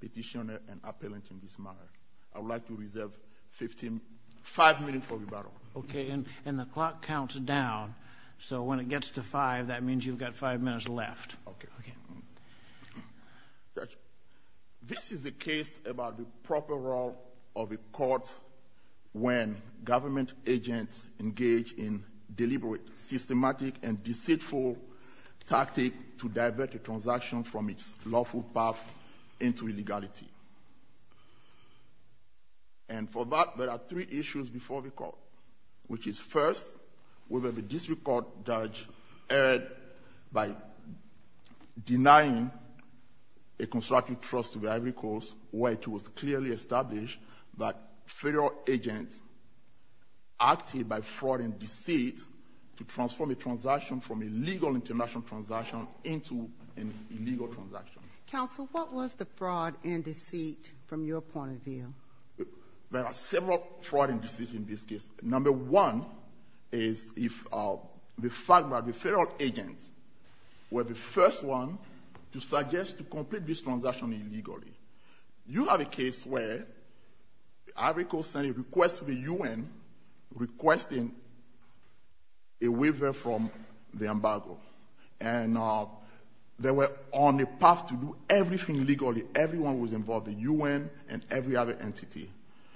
Petitioner and Appellant in this manner. I would like to reserve five minutes for rebuttal. Okay, and the clock counts down, so when it gets to five, that means you've got five minutes left. Okay. This is a case about the proper role of a court when government agents engage in deliberate, systematic, and deceitful tactics to divert a transaction from its lawful path into illegality. And for that, there are three issues before the court, which is first, whether the district court judge erred by denying a constructive trust to the Ivory Coast where it was clearly established that federal agents acted by fraud and deceit to transform a transaction from a legal international transaction into an illegal transaction. Counsel, what was the fraud and deceit from your point of view? There are several fraud and deceit in this case. Number one is the fact that the federal agents were the first one to suggest to complete this transaction illegally. You have a case where Ivory Coast sent a request to the U.N. requesting a waiver from the embargo, and they were on a path to do everything legally. Everyone was involved, the U.N. and every other entity.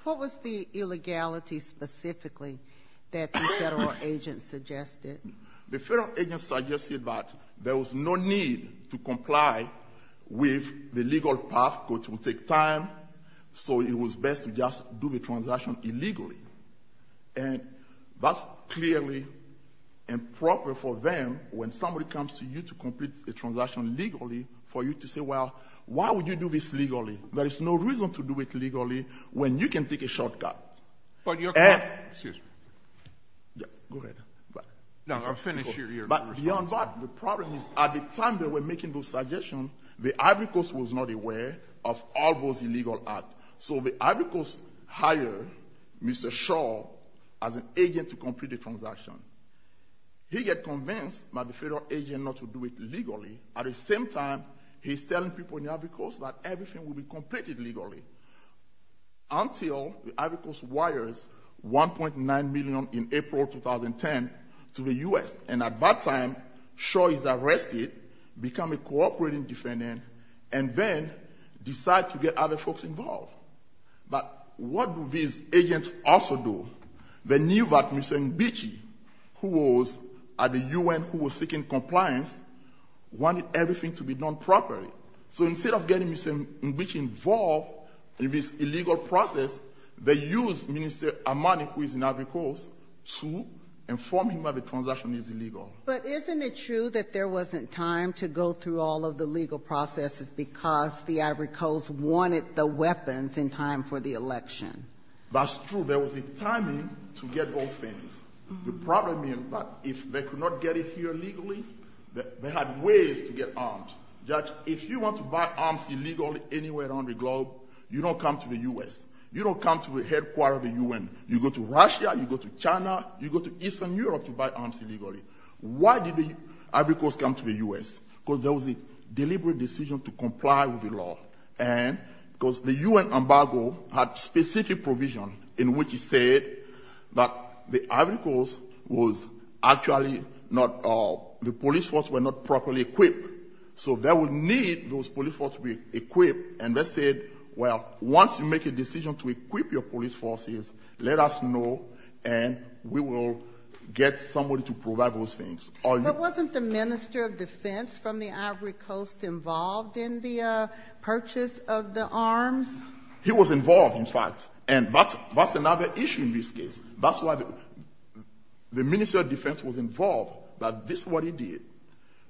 What was the illegality specifically that the federal agents suggested? The federal agents suggested that there was no need to comply with the legal path, which would take time, so it was best to just do the transaction illegally. And that's clearly improper for them, when somebody comes to you to complete a transaction legally, for you to say, well, why would you do this legally? There is no reason to do it legally when you can take a shortcut. Go ahead. No, finish your response. Beyond that, the problem is at the time they were making those suggestions, the Ivory Coast was not aware of all those illegal acts. So the Ivory Coast hired Mr. Shaw as an agent to complete the transaction. He got convinced by the federal agent not to do it legally. At the same time, he's telling people in the Ivory Coast that everything will be completed legally, until the Ivory Coast wires $1.9 million in April 2010 to the U.S. And at that time, Shaw is arrested, becomes a cooperating defendant, and then decides to get other folks involved. But what do these agents also do? They knew that Mr. Nbichi, who was at the U.N., who was seeking compliance, wanted everything to be done properly. So instead of getting Mr. Nbichi involved in this illegal process, they used Minister Amani, who is in the Ivory Coast, to inform him that the transaction is illegal. But isn't it true that there wasn't time to go through all of the legal processes because the Ivory Coast wanted the weapons in time for the election? That's true. There was a timing to get those things. The problem is that if they could not get it here legally, they had ways to get arms. Judge, if you want to buy arms illegally anywhere on the globe, you don't come to the U.S. You don't come to the headquarter of the U.N. You go to Russia, you go to China, you go to Eastern Europe to buy arms illegally. Why did the Ivory Coast come to the U.S.? Because there was a deliberate decision to comply with the law. And because the U.N. embargo had specific provision in which it said that the Ivory Coast was actually not the police force were not properly equipped. So they would need those police force to be equipped. And they said, well, once you make a decision to equip your police forces, let us know, and we will get somebody to provide those things. But wasn't the minister of defense from the Ivory Coast involved in the purchase of the arms? He was involved, in fact. And that's another issue in this case. That's why the minister of defense was involved. But this is what he did.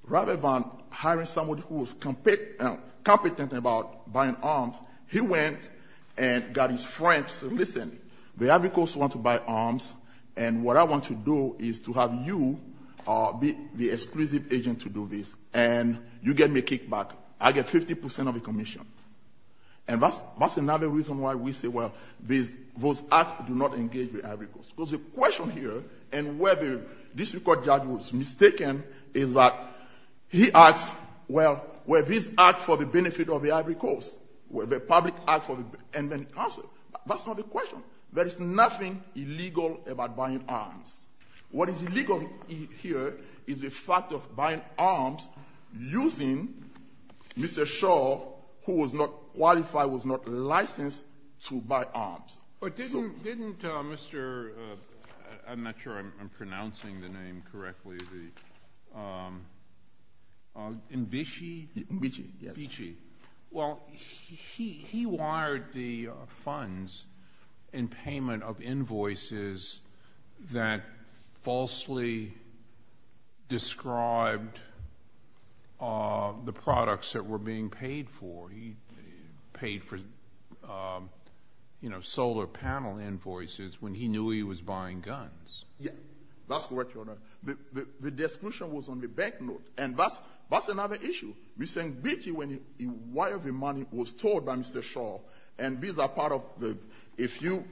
Rather than hiring somebody who was competent about buying arms, he went and got his friends to listen. He said, the Ivory Coast wants to buy arms, and what I want to do is to have you be the exclusive agent to do this. And you get me kicked back. I get 50 percent of the commission. And that's another reason why we say, well, those acts do not engage the Ivory Coast. Because the question here, and whether this court judge was mistaken, is that he asked, well, were these acts for the benefit of the Ivory Coast? Were they public acts for the benefit of the Ivory Coast? That's not the question. There is nothing illegal about buying arms. What is illegal here is the fact of buying arms using Mr. Shaw, who was not qualified, was not licensed to buy arms. But didn't Mr. ‑‑ I'm not sure I'm pronouncing the name correctly. Well, he wired the funds in payment of invoices that falsely described the products that were being paid for. He paid for, you know, solar panel invoices when he knew he was buying guns. Yes. That's correct, Your Honor. The description was on the bank note. And that's another issue. We're saying, did you, when you wired the money, it was told by Mr. Shaw. And these are part of the ‑‑ if you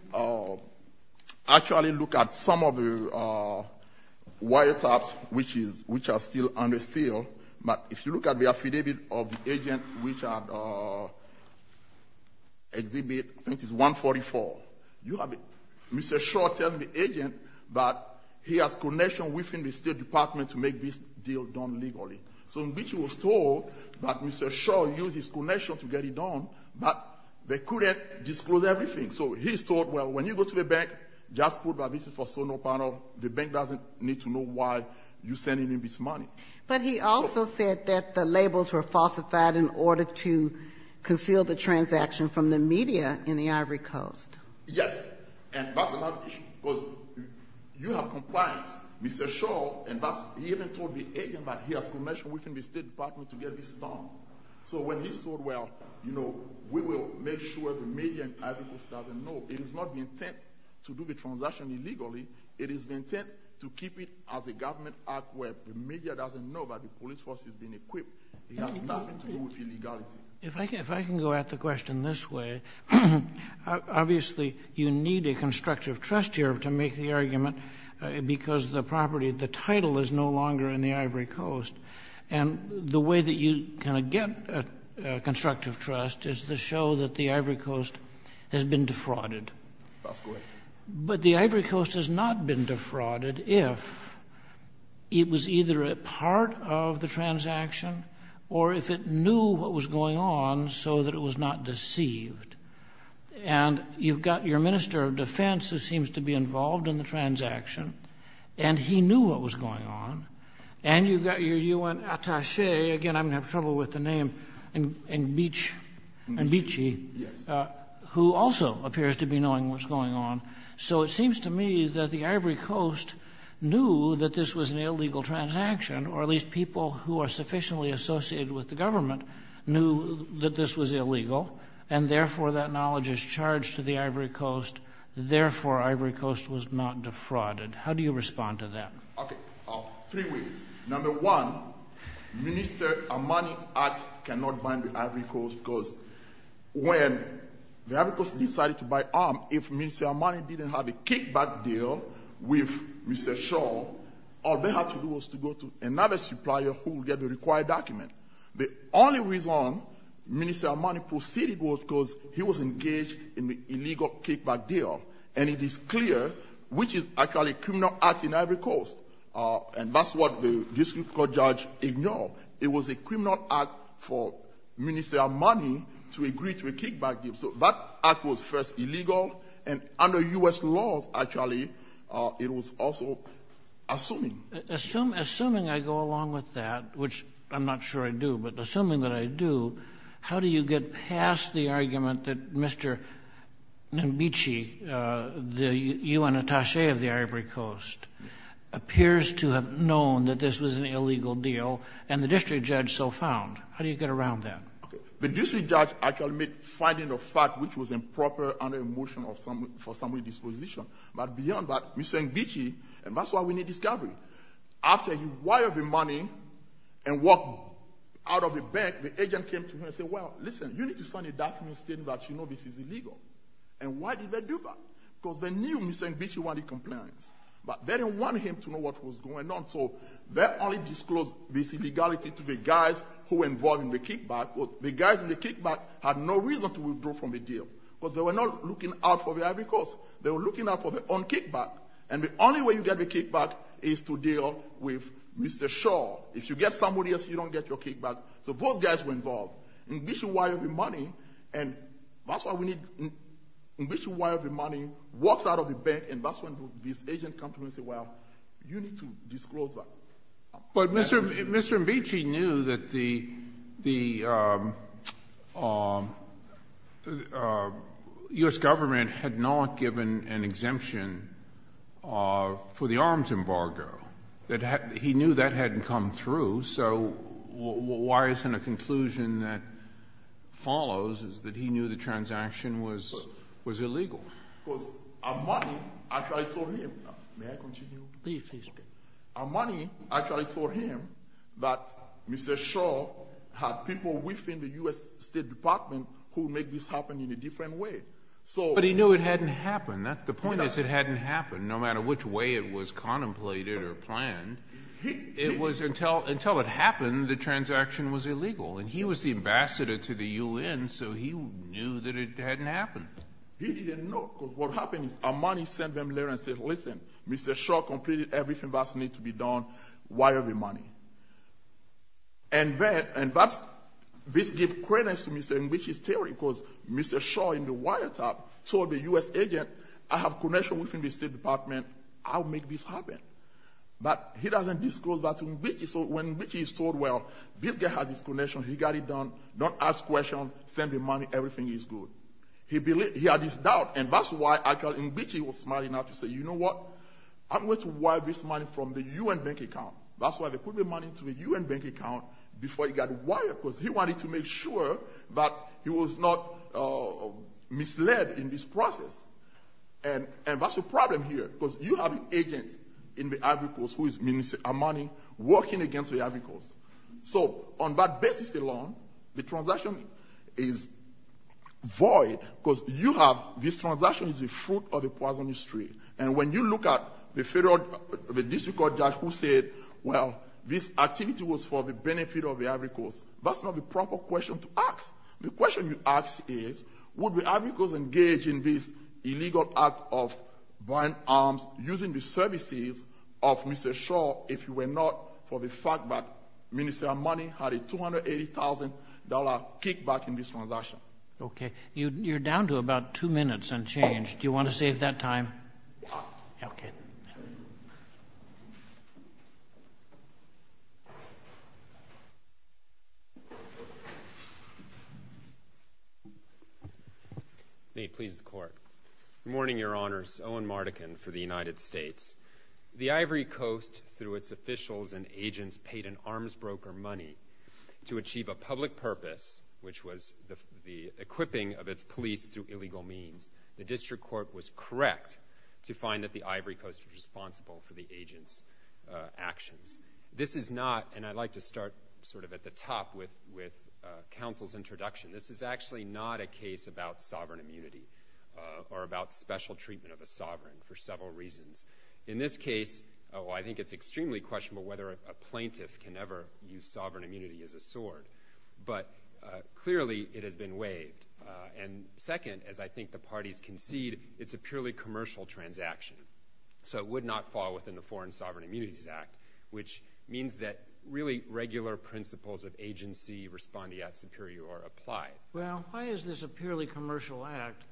actually look at some of the wiretaps, which are still under sale, but if you look at the affidavit of the agent, which are exhibit, I think it's 144, you have Mr. Shaw telling the agent that he has connection within the State Department to make this deal done legally. So in which he was told that Mr. Shaw used his connection to get it done, but they couldn't disclose everything. So he's told, well, when you go to the bank, just put this for solar panel. The bank doesn't need to know why you're sending him this money. But he also said that the labels were falsified in order to conceal the transaction from the media in the Ivory Coast. Yes. And that's another issue. Because you have compliance. Mr. Shaw, he even told the agent that he has connection within the State Department to get this done. So when he's told, well, you know, we will make sure the media in the Ivory Coast doesn't know. It is not the intent to do the transaction illegally. It is the intent to keep it as a government act where the media doesn't know that the police force has been equipped. It has nothing to do with illegality. If I can go at the question this way, obviously you need a constructive trust here to make the argument because the property, the title is no longer in the Ivory Coast. And the way that you kind of get constructive trust is to show that the Ivory Coast has been defrauded. That's correct. But the Ivory Coast has not been defrauded if it was either a part of the transaction or if it knew what was going on so that it was not deceived. And you've got your minister of defense who seems to be involved in the transaction, and he knew what was going on. And you've got your U.N. attache. Again, I'm going to have trouble with the name, and Beachy, who also appears to be knowing what's going on. So it seems to me that the Ivory Coast knew that this was an illegal transaction, or at least people who are sufficiently associated with the government knew that this was illegal, and therefore that knowledge is charged to the Ivory Coast. Therefore, Ivory Coast was not defrauded. How do you respond to that? Okay, three ways. Number one, Minister Armani's act cannot bind the Ivory Coast because when the Ivory Coast decided to buy arms, if Minister Armani didn't have a kickback deal with Mr. Shaw, all they had to do was to go to another supplier who would get the required document. The only reason Minister Armani proceeded was because he was engaged in the illegal kickback deal. And it is clear which is actually a criminal act in Ivory Coast. And that's what the district court judge ignored. It was a criminal act for Minister Armani to agree to a kickback deal. So that act was first illegal, and under U.S. laws, actually, it was also assuming. Assuming I go along with that, which I'm not sure I do, but assuming that I do, how do you get past the argument that Mr. Nmbichi, the U.N. attache of the Ivory Coast, appears to have known that this was an illegal deal, and the district judge so found? How do you get around that? Okay. The district judge actually made finding of fact, which was improper under a motion for summary disposition. But beyond that, Mr. Nmbichi, and that's why we need discovery. After he wired the money and walked out of the bank, the agent came to him and said, well, listen, you need to sign a document stating that you know this is illegal. And why did they do that? Because they knew Mr. Nmbichi wanted compliance, but they didn't want him to know what was going on. So they only disclosed this illegality to the guys who were involved in the kickback. The guys in the kickback had no reason to withdraw from the deal, because they were not looking out for the Ivory Coast. They were looking out for their own kickback. And the only way you get the kickback is to deal with Mr. Shaw. If you get somebody else, you don't get your kickback. So those guys were involved. Nmbichi wired the money, and that's why we need — Nmbichi wired the money, walks out of the bank, and that's when this agent comes to him and says, well, you need to disclose that. But Mr. Nmbichi knew that the U.S. government had not given an exemption for the arms embargo. He knew that hadn't come through. So why isn't a conclusion that follows is that he knew the transaction was illegal? Because Amani actually told him — may I continue? Please, please. Amani actually told him that Mr. Shaw had people within the U.S. State Department who make this happen in a different way. But he knew it hadn't happened. The point is it hadn't happened, no matter which way it was contemplated or planned. It was until it happened, the transaction was illegal. And he was the ambassador to the U.N., so he knew that it hadn't happened. He didn't know, because what happened is Amani sent them there and said, listen, Mr. Shaw completed everything that needs to be done. Wire the money. And then — and that's — this gave credence to Mr. Nmbichi's theory, because Mr. Shaw in the wiretap told the U.S. agent, I have connections within the State Department. I'll make this happen. But he doesn't disclose that to Nmbichi. So when Nmbichi is told, well, this guy has his connections. He got it done. Don't ask questions. Send the money. Everything is good. He had his doubt, and that's why actually Nmbichi was smart enough to say, you know what? I'm going to wire this money from the U.N. bank account. That's why there couldn't be money to the U.N. bank account before it got wired, because he wanted to make sure that he was not misled in this process. And that's the problem here, because you have an agent in the Ivory Coast who is money working against the Ivory Coast. So on that basis alone, the transaction is void, because you have — this transaction is the fruit of the Poisonous Tree. And when you look at the district court judge who said, well, this activity was for the benefit of the Ivory Coast, that's not the proper question to ask. The question you ask is, would the Ivory Coast engage in this illegal act of buying arms using the services of Mr. Shaw if he were not for the fact that ministerial money had a $280,000 kickback in this transaction? Okay. You're down to about two minutes unchanged. Do you want to save that time? Yes. Okay. May it please the Court. Good morning, Your Honors. Owen Mardekin for the United States. The Ivory Coast, through its officials and agents, paid an arms broker money to achieve a public purpose, which was the equipping of its police through illegal means. The district court was correct to find that the Ivory Coast was responsible for the agent's actions. This is not — and I'd like to start sort of at the top with counsel's introduction. This is actually not a case about sovereign immunity or about special treatment of a sovereign for several reasons. In this case, I think it's extremely questionable whether a plaintiff can ever use sovereign immunity as a sword, but clearly it has been waived. And second, as I think the parties concede, it's a purely commercial transaction, so it would not fall within the Foreign Sovereign Immunities Act, which means that really regular principles of agency respondeat superior are applied. Well, why is this a purely commercial act?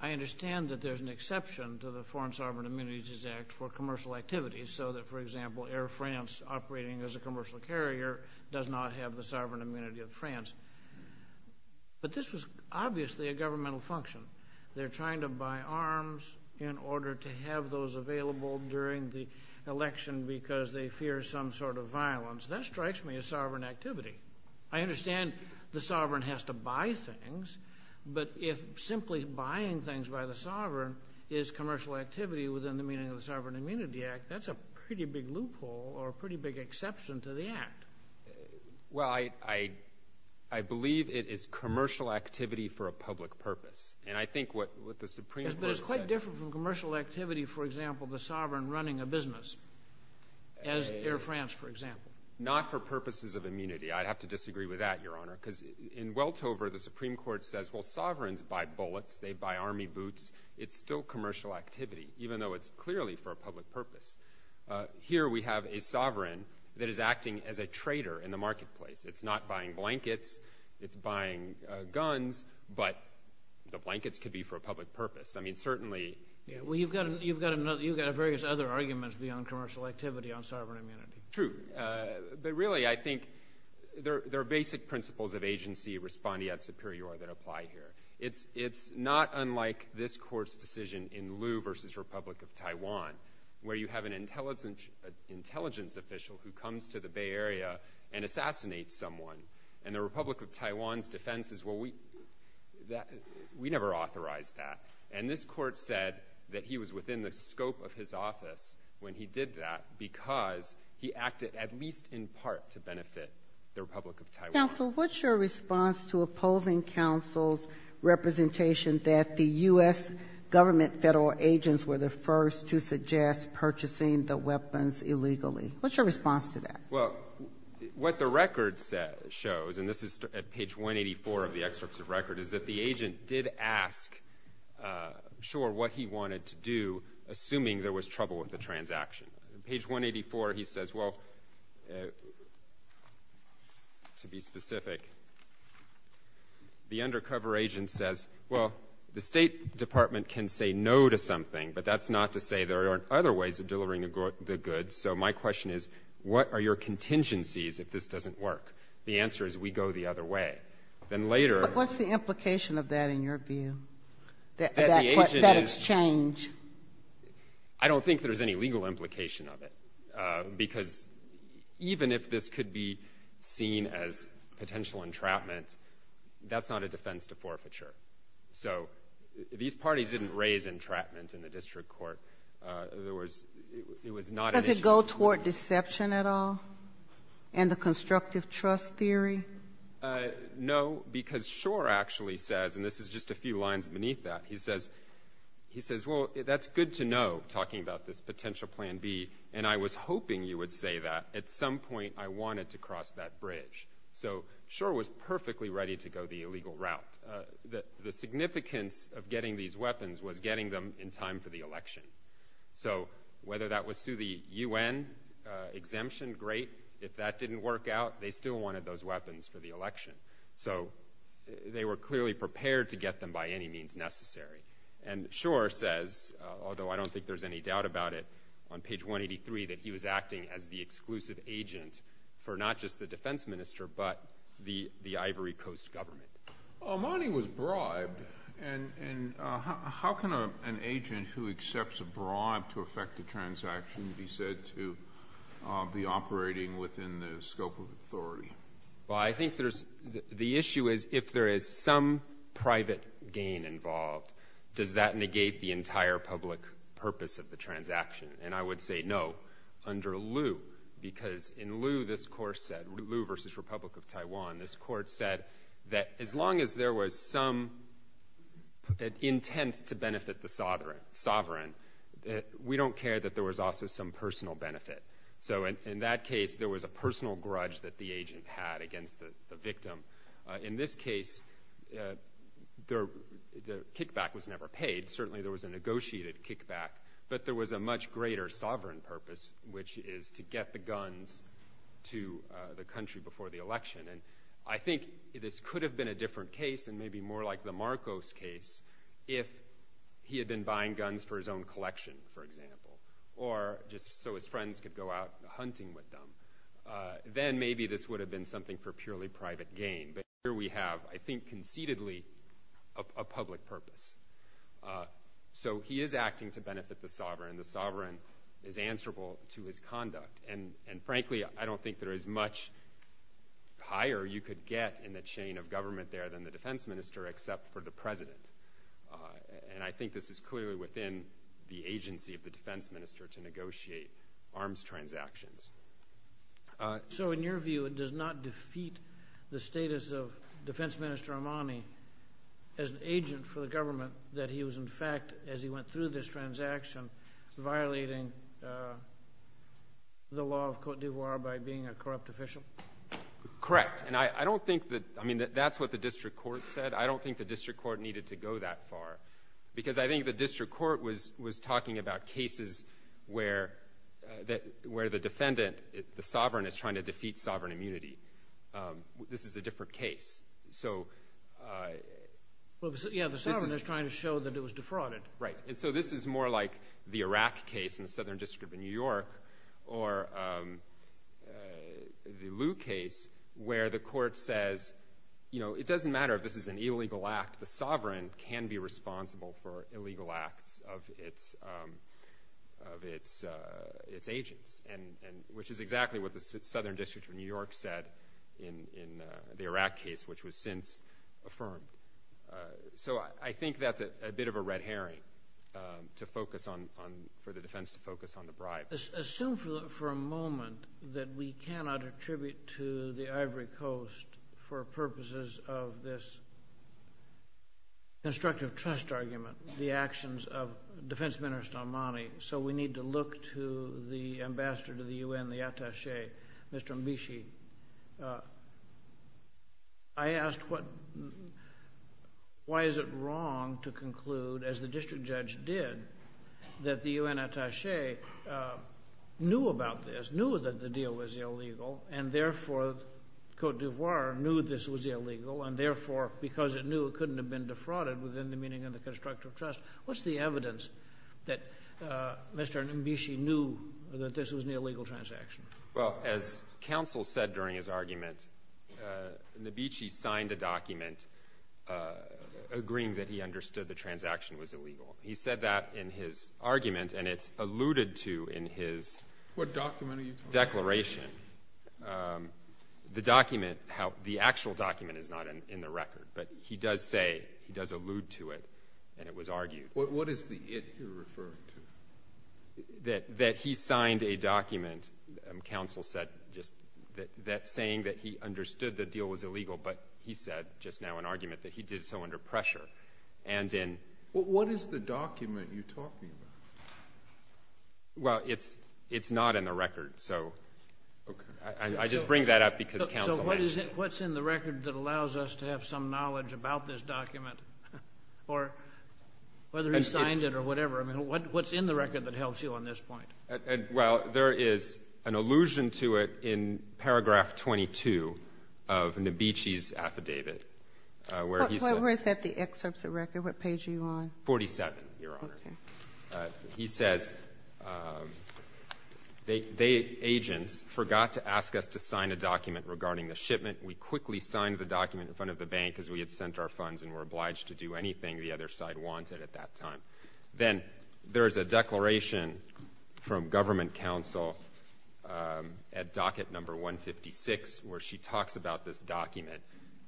I understand that there's an exception to the Foreign Sovereign Immunities Act for commercial activities, so that, for example, Air France, operating as a commercial carrier, does not have the sovereign immunity of France. But this was obviously a governmental function. They're trying to buy arms in order to have those available during the election because they fear some sort of violence. That strikes me as sovereign activity. I understand the sovereign has to buy things, but if simply buying things by the sovereign is commercial activity within the meaning of the Sovereign Immunity Act, that's a pretty big loophole or a pretty big exception to the Act. Well, I believe it is commercial activity for a public purpose. But it's quite different from commercial activity, for example, the sovereign running a business, as Air France, for example. Not for purposes of immunity. I'd have to disagree with that, Your Honor, because in Weltover, the Supreme Court says, well, sovereigns buy bullets, they buy army boots, it's still commercial activity, even though it's clearly for a public purpose. Here we have a sovereign that is acting as a trader in the marketplace. It's not buying blankets, it's buying guns, but the blankets could be for a public purpose. I mean, certainly. Well, you've got various other arguments beyond commercial activity on sovereign immunity. True. But really, I think there are basic principles of agency, respondeat superior, that apply here. It's not unlike this Court's decision in Lu versus Republic of Taiwan, where you have an intelligence official who comes to the Bay Area and assassinates someone. And the Republic of Taiwan's defense is, well, we never authorized that. And this Court said that he was within the scope of his office when he did that, because he acted at least in part to benefit the Republic of Taiwan. Sotomayor, what's your response to opposing counsel's representation that the U.S. government Federal agents were the first to suggest purchasing the weapons illegally? What's your response to that? Well, what the record shows, and this is at page 184 of the excerpt of the record, is that the agent did ask Shor what he wanted to do, assuming there was trouble with the transaction. Page 184, he says, well, to be specific, the undercover agent says, well, the State Department can say no to something, but that's not to say there aren't other ways of delivering the goods. So my question is, what are your contingencies if this doesn't work? The answer is we go the other way. Then later ---- But what's the implication of that in your view? That the agent is ---- That it's change. I don't think there's any legal implication of it, because even if this could be seen as potential entrapment, that's not a defense to forfeiture. So these parties didn't raise entrapment in the district court. In other words, it was not an issue. Does it go toward deception at all in the constructive trust theory? No, because Shor actually says, and this is just a few lines beneath that, he says, well, that's good to know, talking about this potential plan B, and I was hoping you would say that. At some point I wanted to cross that bridge. So Shor was perfectly ready to go the illegal route. The significance of getting these weapons was getting them in time for the election. So whether that was through the U.N. exemption, great. If that didn't work out, they still wanted those weapons for the election. So they were clearly prepared to get them by any means necessary. And Shor says, although I don't think there's any doubt about it, on page 183, that he was acting as the exclusive agent for not just the defense minister, but the Ivory Coast government. Armani was bribed, and how can an agent who accepts a bribe to effect a transaction be said to be operating within the scope of authority? Well, I think the issue is if there is some private gain involved, does that negate the entire public purpose of the transaction? And I would say no under Lu, because in Lu, this court said, Lu v. Republic of Taiwan, this court said that as long as there was some intent to benefit the sovereign, we don't care that there was also some personal benefit. So in that case, there was a personal grudge that the agent had against the victim. In this case, the kickback was never paid. Certainly there was a negotiated kickback, but there was a much greater sovereign purpose, which is to get the guns to the country before the election. And I think this could have been a different case and maybe more like the Marcos case if he had been buying guns for his own collection, for example, or just so his friends could go out hunting with them. Then maybe this would have been something for purely private gain. But here we have, I think conceitedly, a public purpose. So he is acting to benefit the sovereign. The sovereign is answerable to his conduct. And frankly, I don't think there is much higher you could get in the chain of government there than the defense minister except for the president. And I think this is clearly within the agency of the defense minister to negotiate arms transactions. So in your view, it does not defeat the status of Defense Minister Amani as an agent for the government that he was in fact, as he went through this transaction, violating the law of Cote d'Ivoire by being a corrupt official? Correct. And I don't think that's what the district court said. I don't think the district court needed to go that far. Because I think the district court was talking about cases where the defendant, the sovereign, is trying to defeat sovereign immunity. This is a different case. Yeah, the sovereign is trying to show that it was defrauded. Right. And so this is more like the Iraq case in the Southern District of New York or the Liu case where the court says, you know, it doesn't matter if this is an illegal act. The sovereign can be responsible for illegal acts of its agents, which is exactly what the Southern District of New York said in the Iraq case, which was since affirmed. So I think that's a bit of a red herring for the defense to focus on the bribe. Assume for a moment that we cannot attribute to the Ivory Coast for purposes of this constructive trust argument the actions of Defense Minister Amani, so we need to look to the ambassador to the U.N., the attache, Mr. Ambishi. I asked why is it wrong to conclude, as the district judge did, that the U.N. attache knew about this, knew that the deal was illegal, and therefore Cote d'Ivoire knew this was illegal, and therefore because it knew it couldn't have been defrauded within the meaning of the constructive trust. What's the evidence that Mr. Ambishi knew that this was an illegal transaction? Well, as counsel said during his argument, Nabitchi signed a document agreeing that he understood the transaction was illegal. He said that in his argument, and it's alluded to in his declaration. What document are you talking about? The document, the actual document is not in the record, but he does say, he does allude to it, and it was argued. What is the it you're referring to? That he signed a document, counsel said, that saying that he understood the deal was illegal, but he said, just now in argument, that he did so under pressure. What is the document you're talking about? Well, it's not in the record, so I just bring that up because counsel asked. So what's in the record that allows us to have some knowledge about this document, or whether he signed it or whatever? I mean, what's in the record that helps you on this point? Well, there is an allusion to it in paragraph 22 of Nabitchi's affidavit, where he said — Where is that, the excerpts of record? What page are you on? 47, Your Honor. Okay. He says, they, agents, forgot to ask us to sign a document regarding the shipment. We quickly signed the document in front of the bank because we had sent our funds and were obliged to do anything the other side wanted at that time. Then there is a declaration from government counsel at docket number 156 where she talks about this document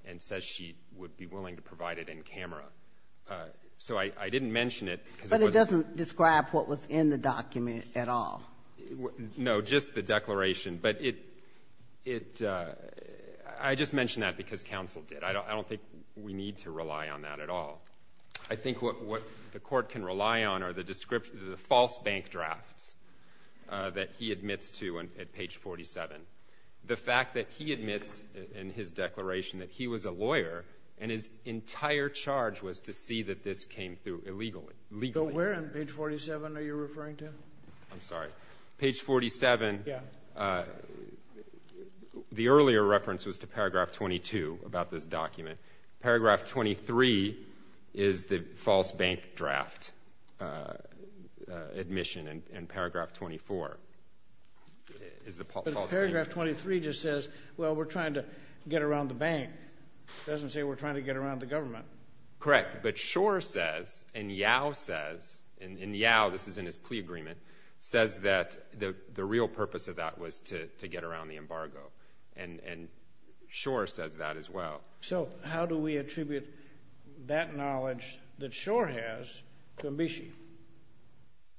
and says she would be willing to provide it in camera. So I didn't mention it because it was a — But it doesn't describe what was in the document at all. No, just the declaration. But it — I just mention that because counsel did. I don't think we need to rely on that at all. I think what the court can rely on are the false bank drafts that he admits to at page 47. The fact that he admits in his declaration that he was a lawyer and his entire charge was to see that this came through illegally. So where on page 47 are you referring to? I'm sorry. Page 47. Yeah. The earlier reference was to paragraph 22 about this document. Paragraph 23 is the false bank draft admission in paragraph 24. But paragraph 23 just says, well, we're trying to get around the bank. It doesn't say we're trying to get around the government. Correct. But Schor says, and Yao says, and Yao, this is in his plea agreement, says that the real purpose of that was to get around the embargo. And Schor says that as well. So how do we attribute that knowledge that Schor has to Nabishi?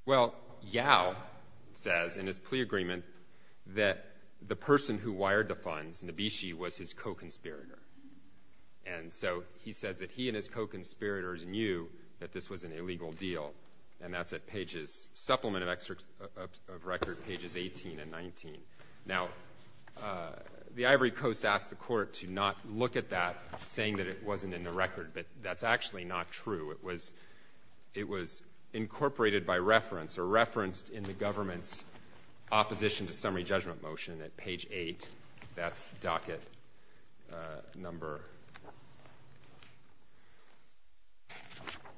Well, Yao says in his plea agreement that the person who wired the funds, Nabishi, was his co-conspirator. And so he says that he and his co-conspirators knew that this was an illegal deal, and that's at pages, supplement of record, pages 18 and 19. Now, the Ivory Coast asked the Court to not look at that, saying that it wasn't in the record. But that's actually not true. It was incorporated by reference or referenced in the government's opposition to summary judgment motion at page 8. That's docket number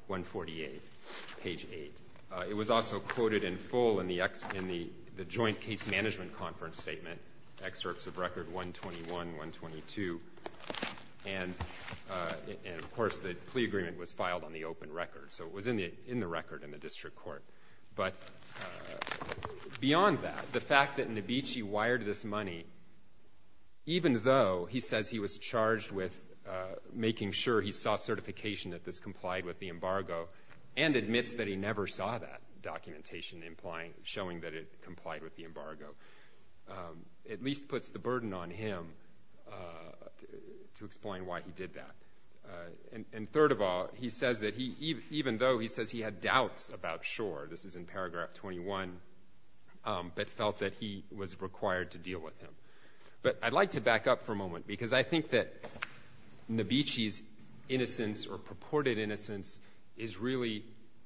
148, page 8. It was also quoted in full in the joint case management conference statement, excerpts of record 121, 122. And, of course, the plea agreement was filed on the open record. So it was in the record in the district court. But beyond that, the fact that Nabishi wired this money, even though he says he was charged with making sure he saw certification that this complied with the embargo and admits that he never saw that documentation showing that it complied with the embargo, at least puts the burden on him to explain why he did that. And third of all, he says that even though he says he had doubts about Shor, this is in paragraph 21, but felt that he was required to deal with him. But I'd like to back up for a moment, because I think that Nabishi's innocence or purported innocence is really,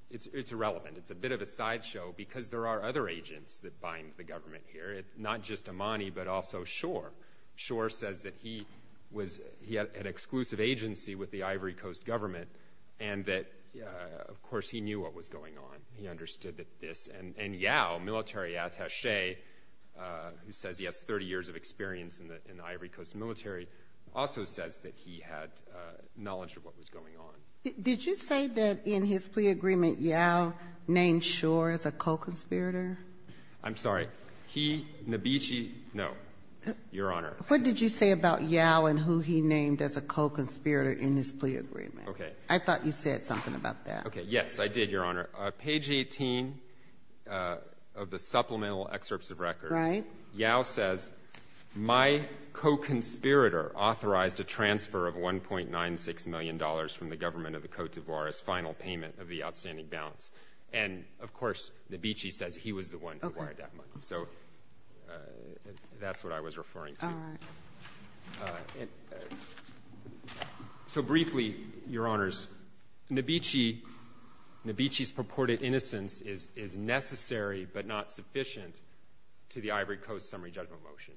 it's irrelevant. It's a bit of a sideshow because there are other agents that bind the government here, not just Amani but also Shor. Shor says that he was, he had an exclusive agency with the Ivory Coast government and that, of course, he knew what was going on. He understood that this, and Yao, military attache, who says he has 30 years of experience in the Ivory Coast military, also says that he had knowledge of what was going on. Did you say that in his plea agreement Yao named Shor as a co-conspirator? I'm sorry. He, Nabishi, no. Your Honor. What did you say about Yao and who he named as a co-conspirator in his plea agreement? Okay. I thought you said something about that. Okay. Yes, I did, Your Honor. Page 18 of the supplemental excerpts of record, Yao says, My co-conspirator authorized a transfer of $1.96 million from the government of the Cote d'Ivoire as final payment of the outstanding balance. And, of course, Nabishi says he was the one who wired that money. Okay. So that's what I was referring to. All right. So briefly, Your Honors, Nabishi's purported innocence is necessary but not sufficient to the Ivory Coast summary judgment motion.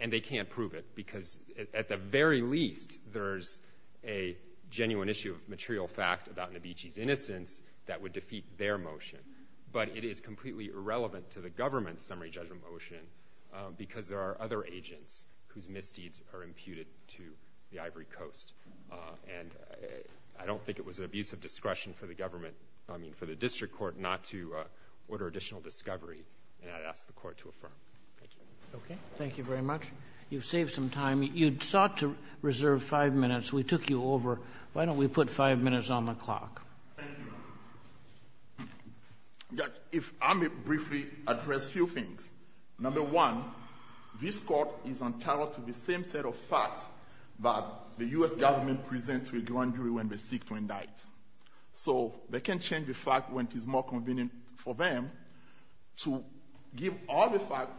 And they can't prove it, because at the very least, there's a genuine issue of material fact about Nabishi's innocence that would defeat their motion. But it is completely irrelevant to the government's summary judgment motion, because there are other agents whose misdeeds are imputed to the Ivory Coast. And I don't think it was an abuse of discretion for the government, I mean, for the district court not to order additional discovery. And I'd ask the Court to affirm. Thank you. Thank you very much. You've saved some time. You sought to reserve five minutes. We took you over. Why don't we put five minutes on the clock? Thank you, Your Honor. If I may briefly address a few things. Number one, this Court is entitled to the same set of facts that the U.S. government presents to a grand jury when they seek to indict. So they can change the fact when it is more convenient for them to give all the facts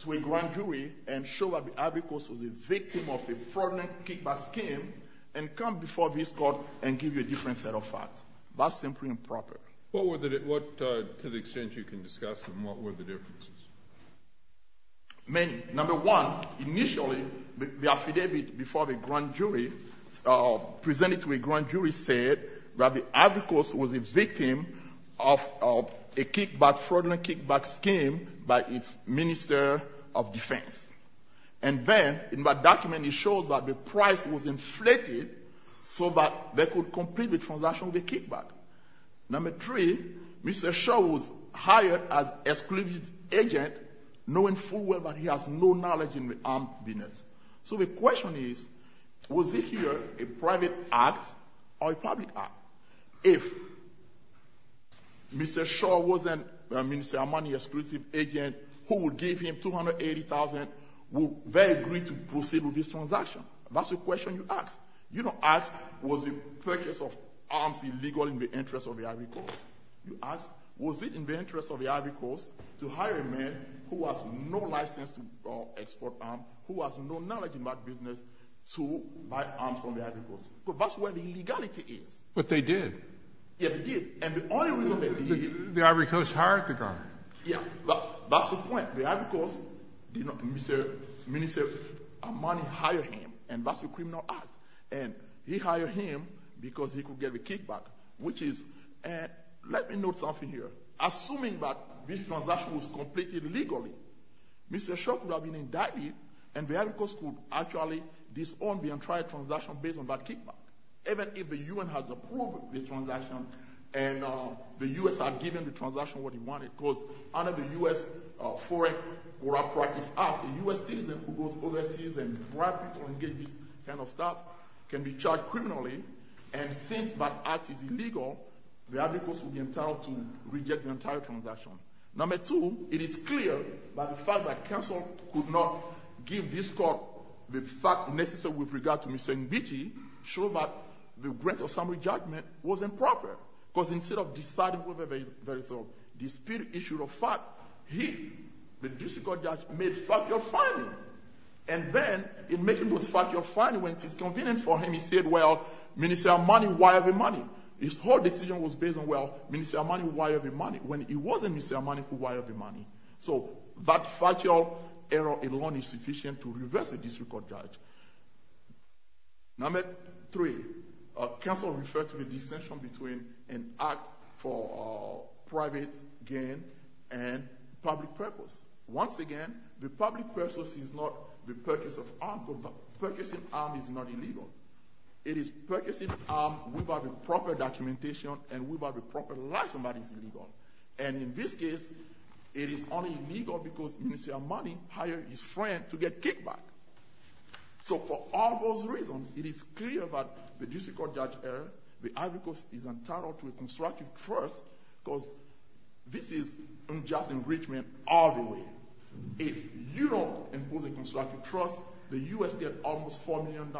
to a grand jury and show that the Ivory Coast was a victim of a fraudulent kickback scheme and come before this Court and give you a different set of facts. That's simply improper. What were the — to the extent you can discuss them, what were the differences? Many. Number one, initially, the affidavit before the grand jury presented to a grand jury said that the Ivory Coast was a victim of a kickback — fraudulent kickback scheme by its Minister of Defense. And then, in that document, it shows that the price was inflated so that they could complete the transaction with a kickback. Number three, Mr. Shaw was hired as an exclusive agent, knowing full well that he has no knowledge in the armed business. So the question is, was it here a private act or a public act? If Mr. Shaw wasn't a Minister of Money, an exclusive agent, who would give him $280,000, would they agree to proceed with this transaction? That's the question you ask. You don't ask, was the purchase of arms illegal in the interest of the Ivory Coast. You ask, was it in the interest of the Ivory Coast to hire a man who has no license to export arms, who has no knowledge in that business, to buy arms from the Ivory Coast? That's where the illegality is. But they did. Yes, they did. And the only reason they did — The Ivory Coast hired the guy. That's the point. The Ivory Coast, you know, Mr. Minister of Money hired him. And that's a criminal act. And he hired him because he could get the kickback, which is — let me note something here. Assuming that this transaction was completed legally, Mr. Shaw could have been indicted, and the Ivory Coast could actually disown the entire transaction based on that kickback, even if the U.N. had approved the transaction and the U.S. had given the transaction what it wanted. Because under the U.S. Foreign Corrupt Practices Act, a U.S. citizen who goes overseas and bribe people and engage in this kind of stuff can be charged criminally. And since that act is illegal, the Ivory Coast will be entitled to reject the entire transaction. Number two, it is clear by the fact that counsel could not give this court the fact necessary with regard to Mr. Nbiji, show that the grant of summary judgment was improper. Because instead of deciding whether there is a dispute issue of fact, he, the district court judge, made factual finding. And then, in making this factual finding, when it is convenient for him, he said, well, Minister of Money wired the money. His whole decision was based on, well, Minister of Money wired the money, when it wasn't Minister of Money who wired the money. So that factual error alone is sufficient to reverse a district court judge. Number three, counsel referred to a dissension between an act for private gain and public purpose. Once again, the public purpose is not the purchase of arms, but the purchasing of arms is not illegal. It is purchasing of arms without the proper documentation and without the proper license is illegal. And in this case, it is only illegal because Minister of Money hired his friend to get kicked back. So for all those reasons, it is clear that the district court judge, the advocacy is entitled to a constructive trust, because this is unjust enrichment all the way. If you don't impose a constructive trust, the U.S. gets almost $4 million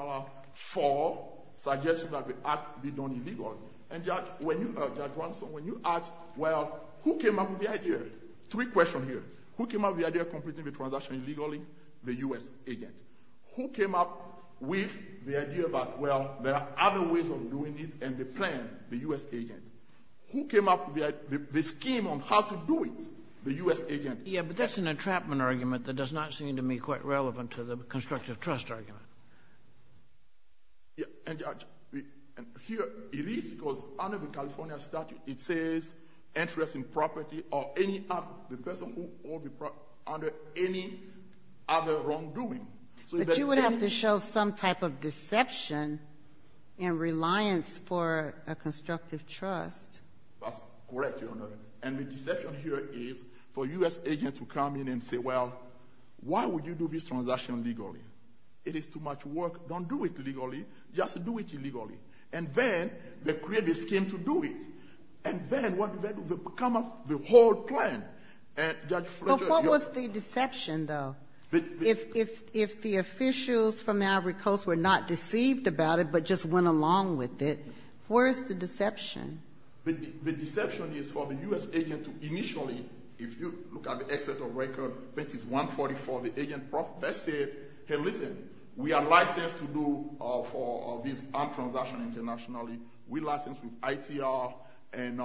for suggestions that the act be done illegally. And, Judge, when you ask, well, who came up with the idea? Three questions here. Who came up with the idea of completing the transaction illegally? The U.S. agent. Who came up with the idea that, well, there are other ways of doing it and the plan? The U.S. agent. Who came up with the scheme on how to do it? The U.S. agent. Yeah, but that's an entrapment argument that does not seem to me quite relevant to the constructive trust argument. Yeah, and, Judge, here it is, because under the California statute, it says interest in property or any other, the person who owns the property under any other wrongdoing. But you would have to show some type of deception in reliance for a constructive trust. That's correct, Your Honor. And the deception here is for U.S. agents to come in and say, well, why would you do this transaction illegally? It is too much work. Don't do it legally. Just do it illegally. And then they create a scheme to do it. And then what then would become the whole plan? And, Judge Fletcher, your — Well, what was the deception, though? If the officials from the Ivory Coast were not deceived about it but just went along with it, where is the deception? The deception is for the U.S. agent to initially, if you look at the exit of record, I think it's 144, the agent said, hey, listen, we are licensed to do this armed transaction internationally. We're licensed with ITR, and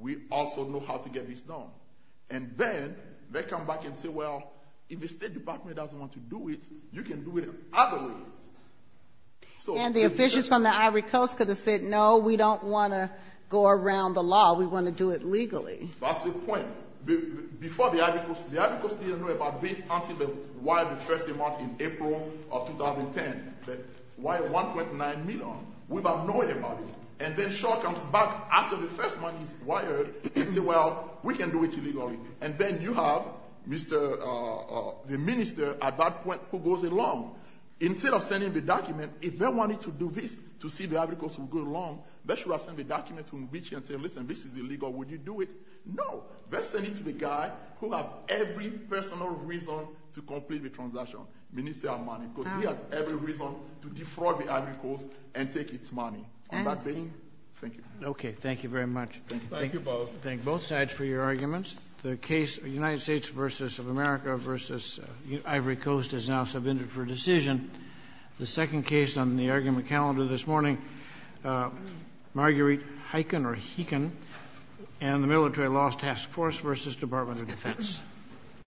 we also know how to get this done. And then they come back and say, well, if the State Department doesn't want to do it, you can do it other ways. And the officials from the Ivory Coast could have said, no, we don't want to go around the law. We want to do it legally. That's the point. Before the Ivory Coast — the Ivory Coast didn't know about this until they wired the first amount in April of 2010. They wired 1.9 million without knowing about it. And then Shaw comes back after the first money is wired and says, well, we can do it illegally. And then you have Mr. — the minister at that point who goes along. Instead of sending the document, if they wanted to do this to see the Ivory Coast would go along, they should have sent the document to Nvechi and said, listen, this is illegal. Would you do it? No. Let's send it to the guy who has every personal reason to complete the transaction, Minister Armani, because he has every reason to defraud the Ivory Coast and take its money. On that basis, thank you. Okay. Thank you very much. Thank you. Thank you both. Thank both sides for your arguments. The case of the United States v. America v. Ivory Coast is now submitted for decision. The second case on the argument calendar this morning, Marguerite Heiken or Heekin and the Military Laws Task Force v. Department of Defense.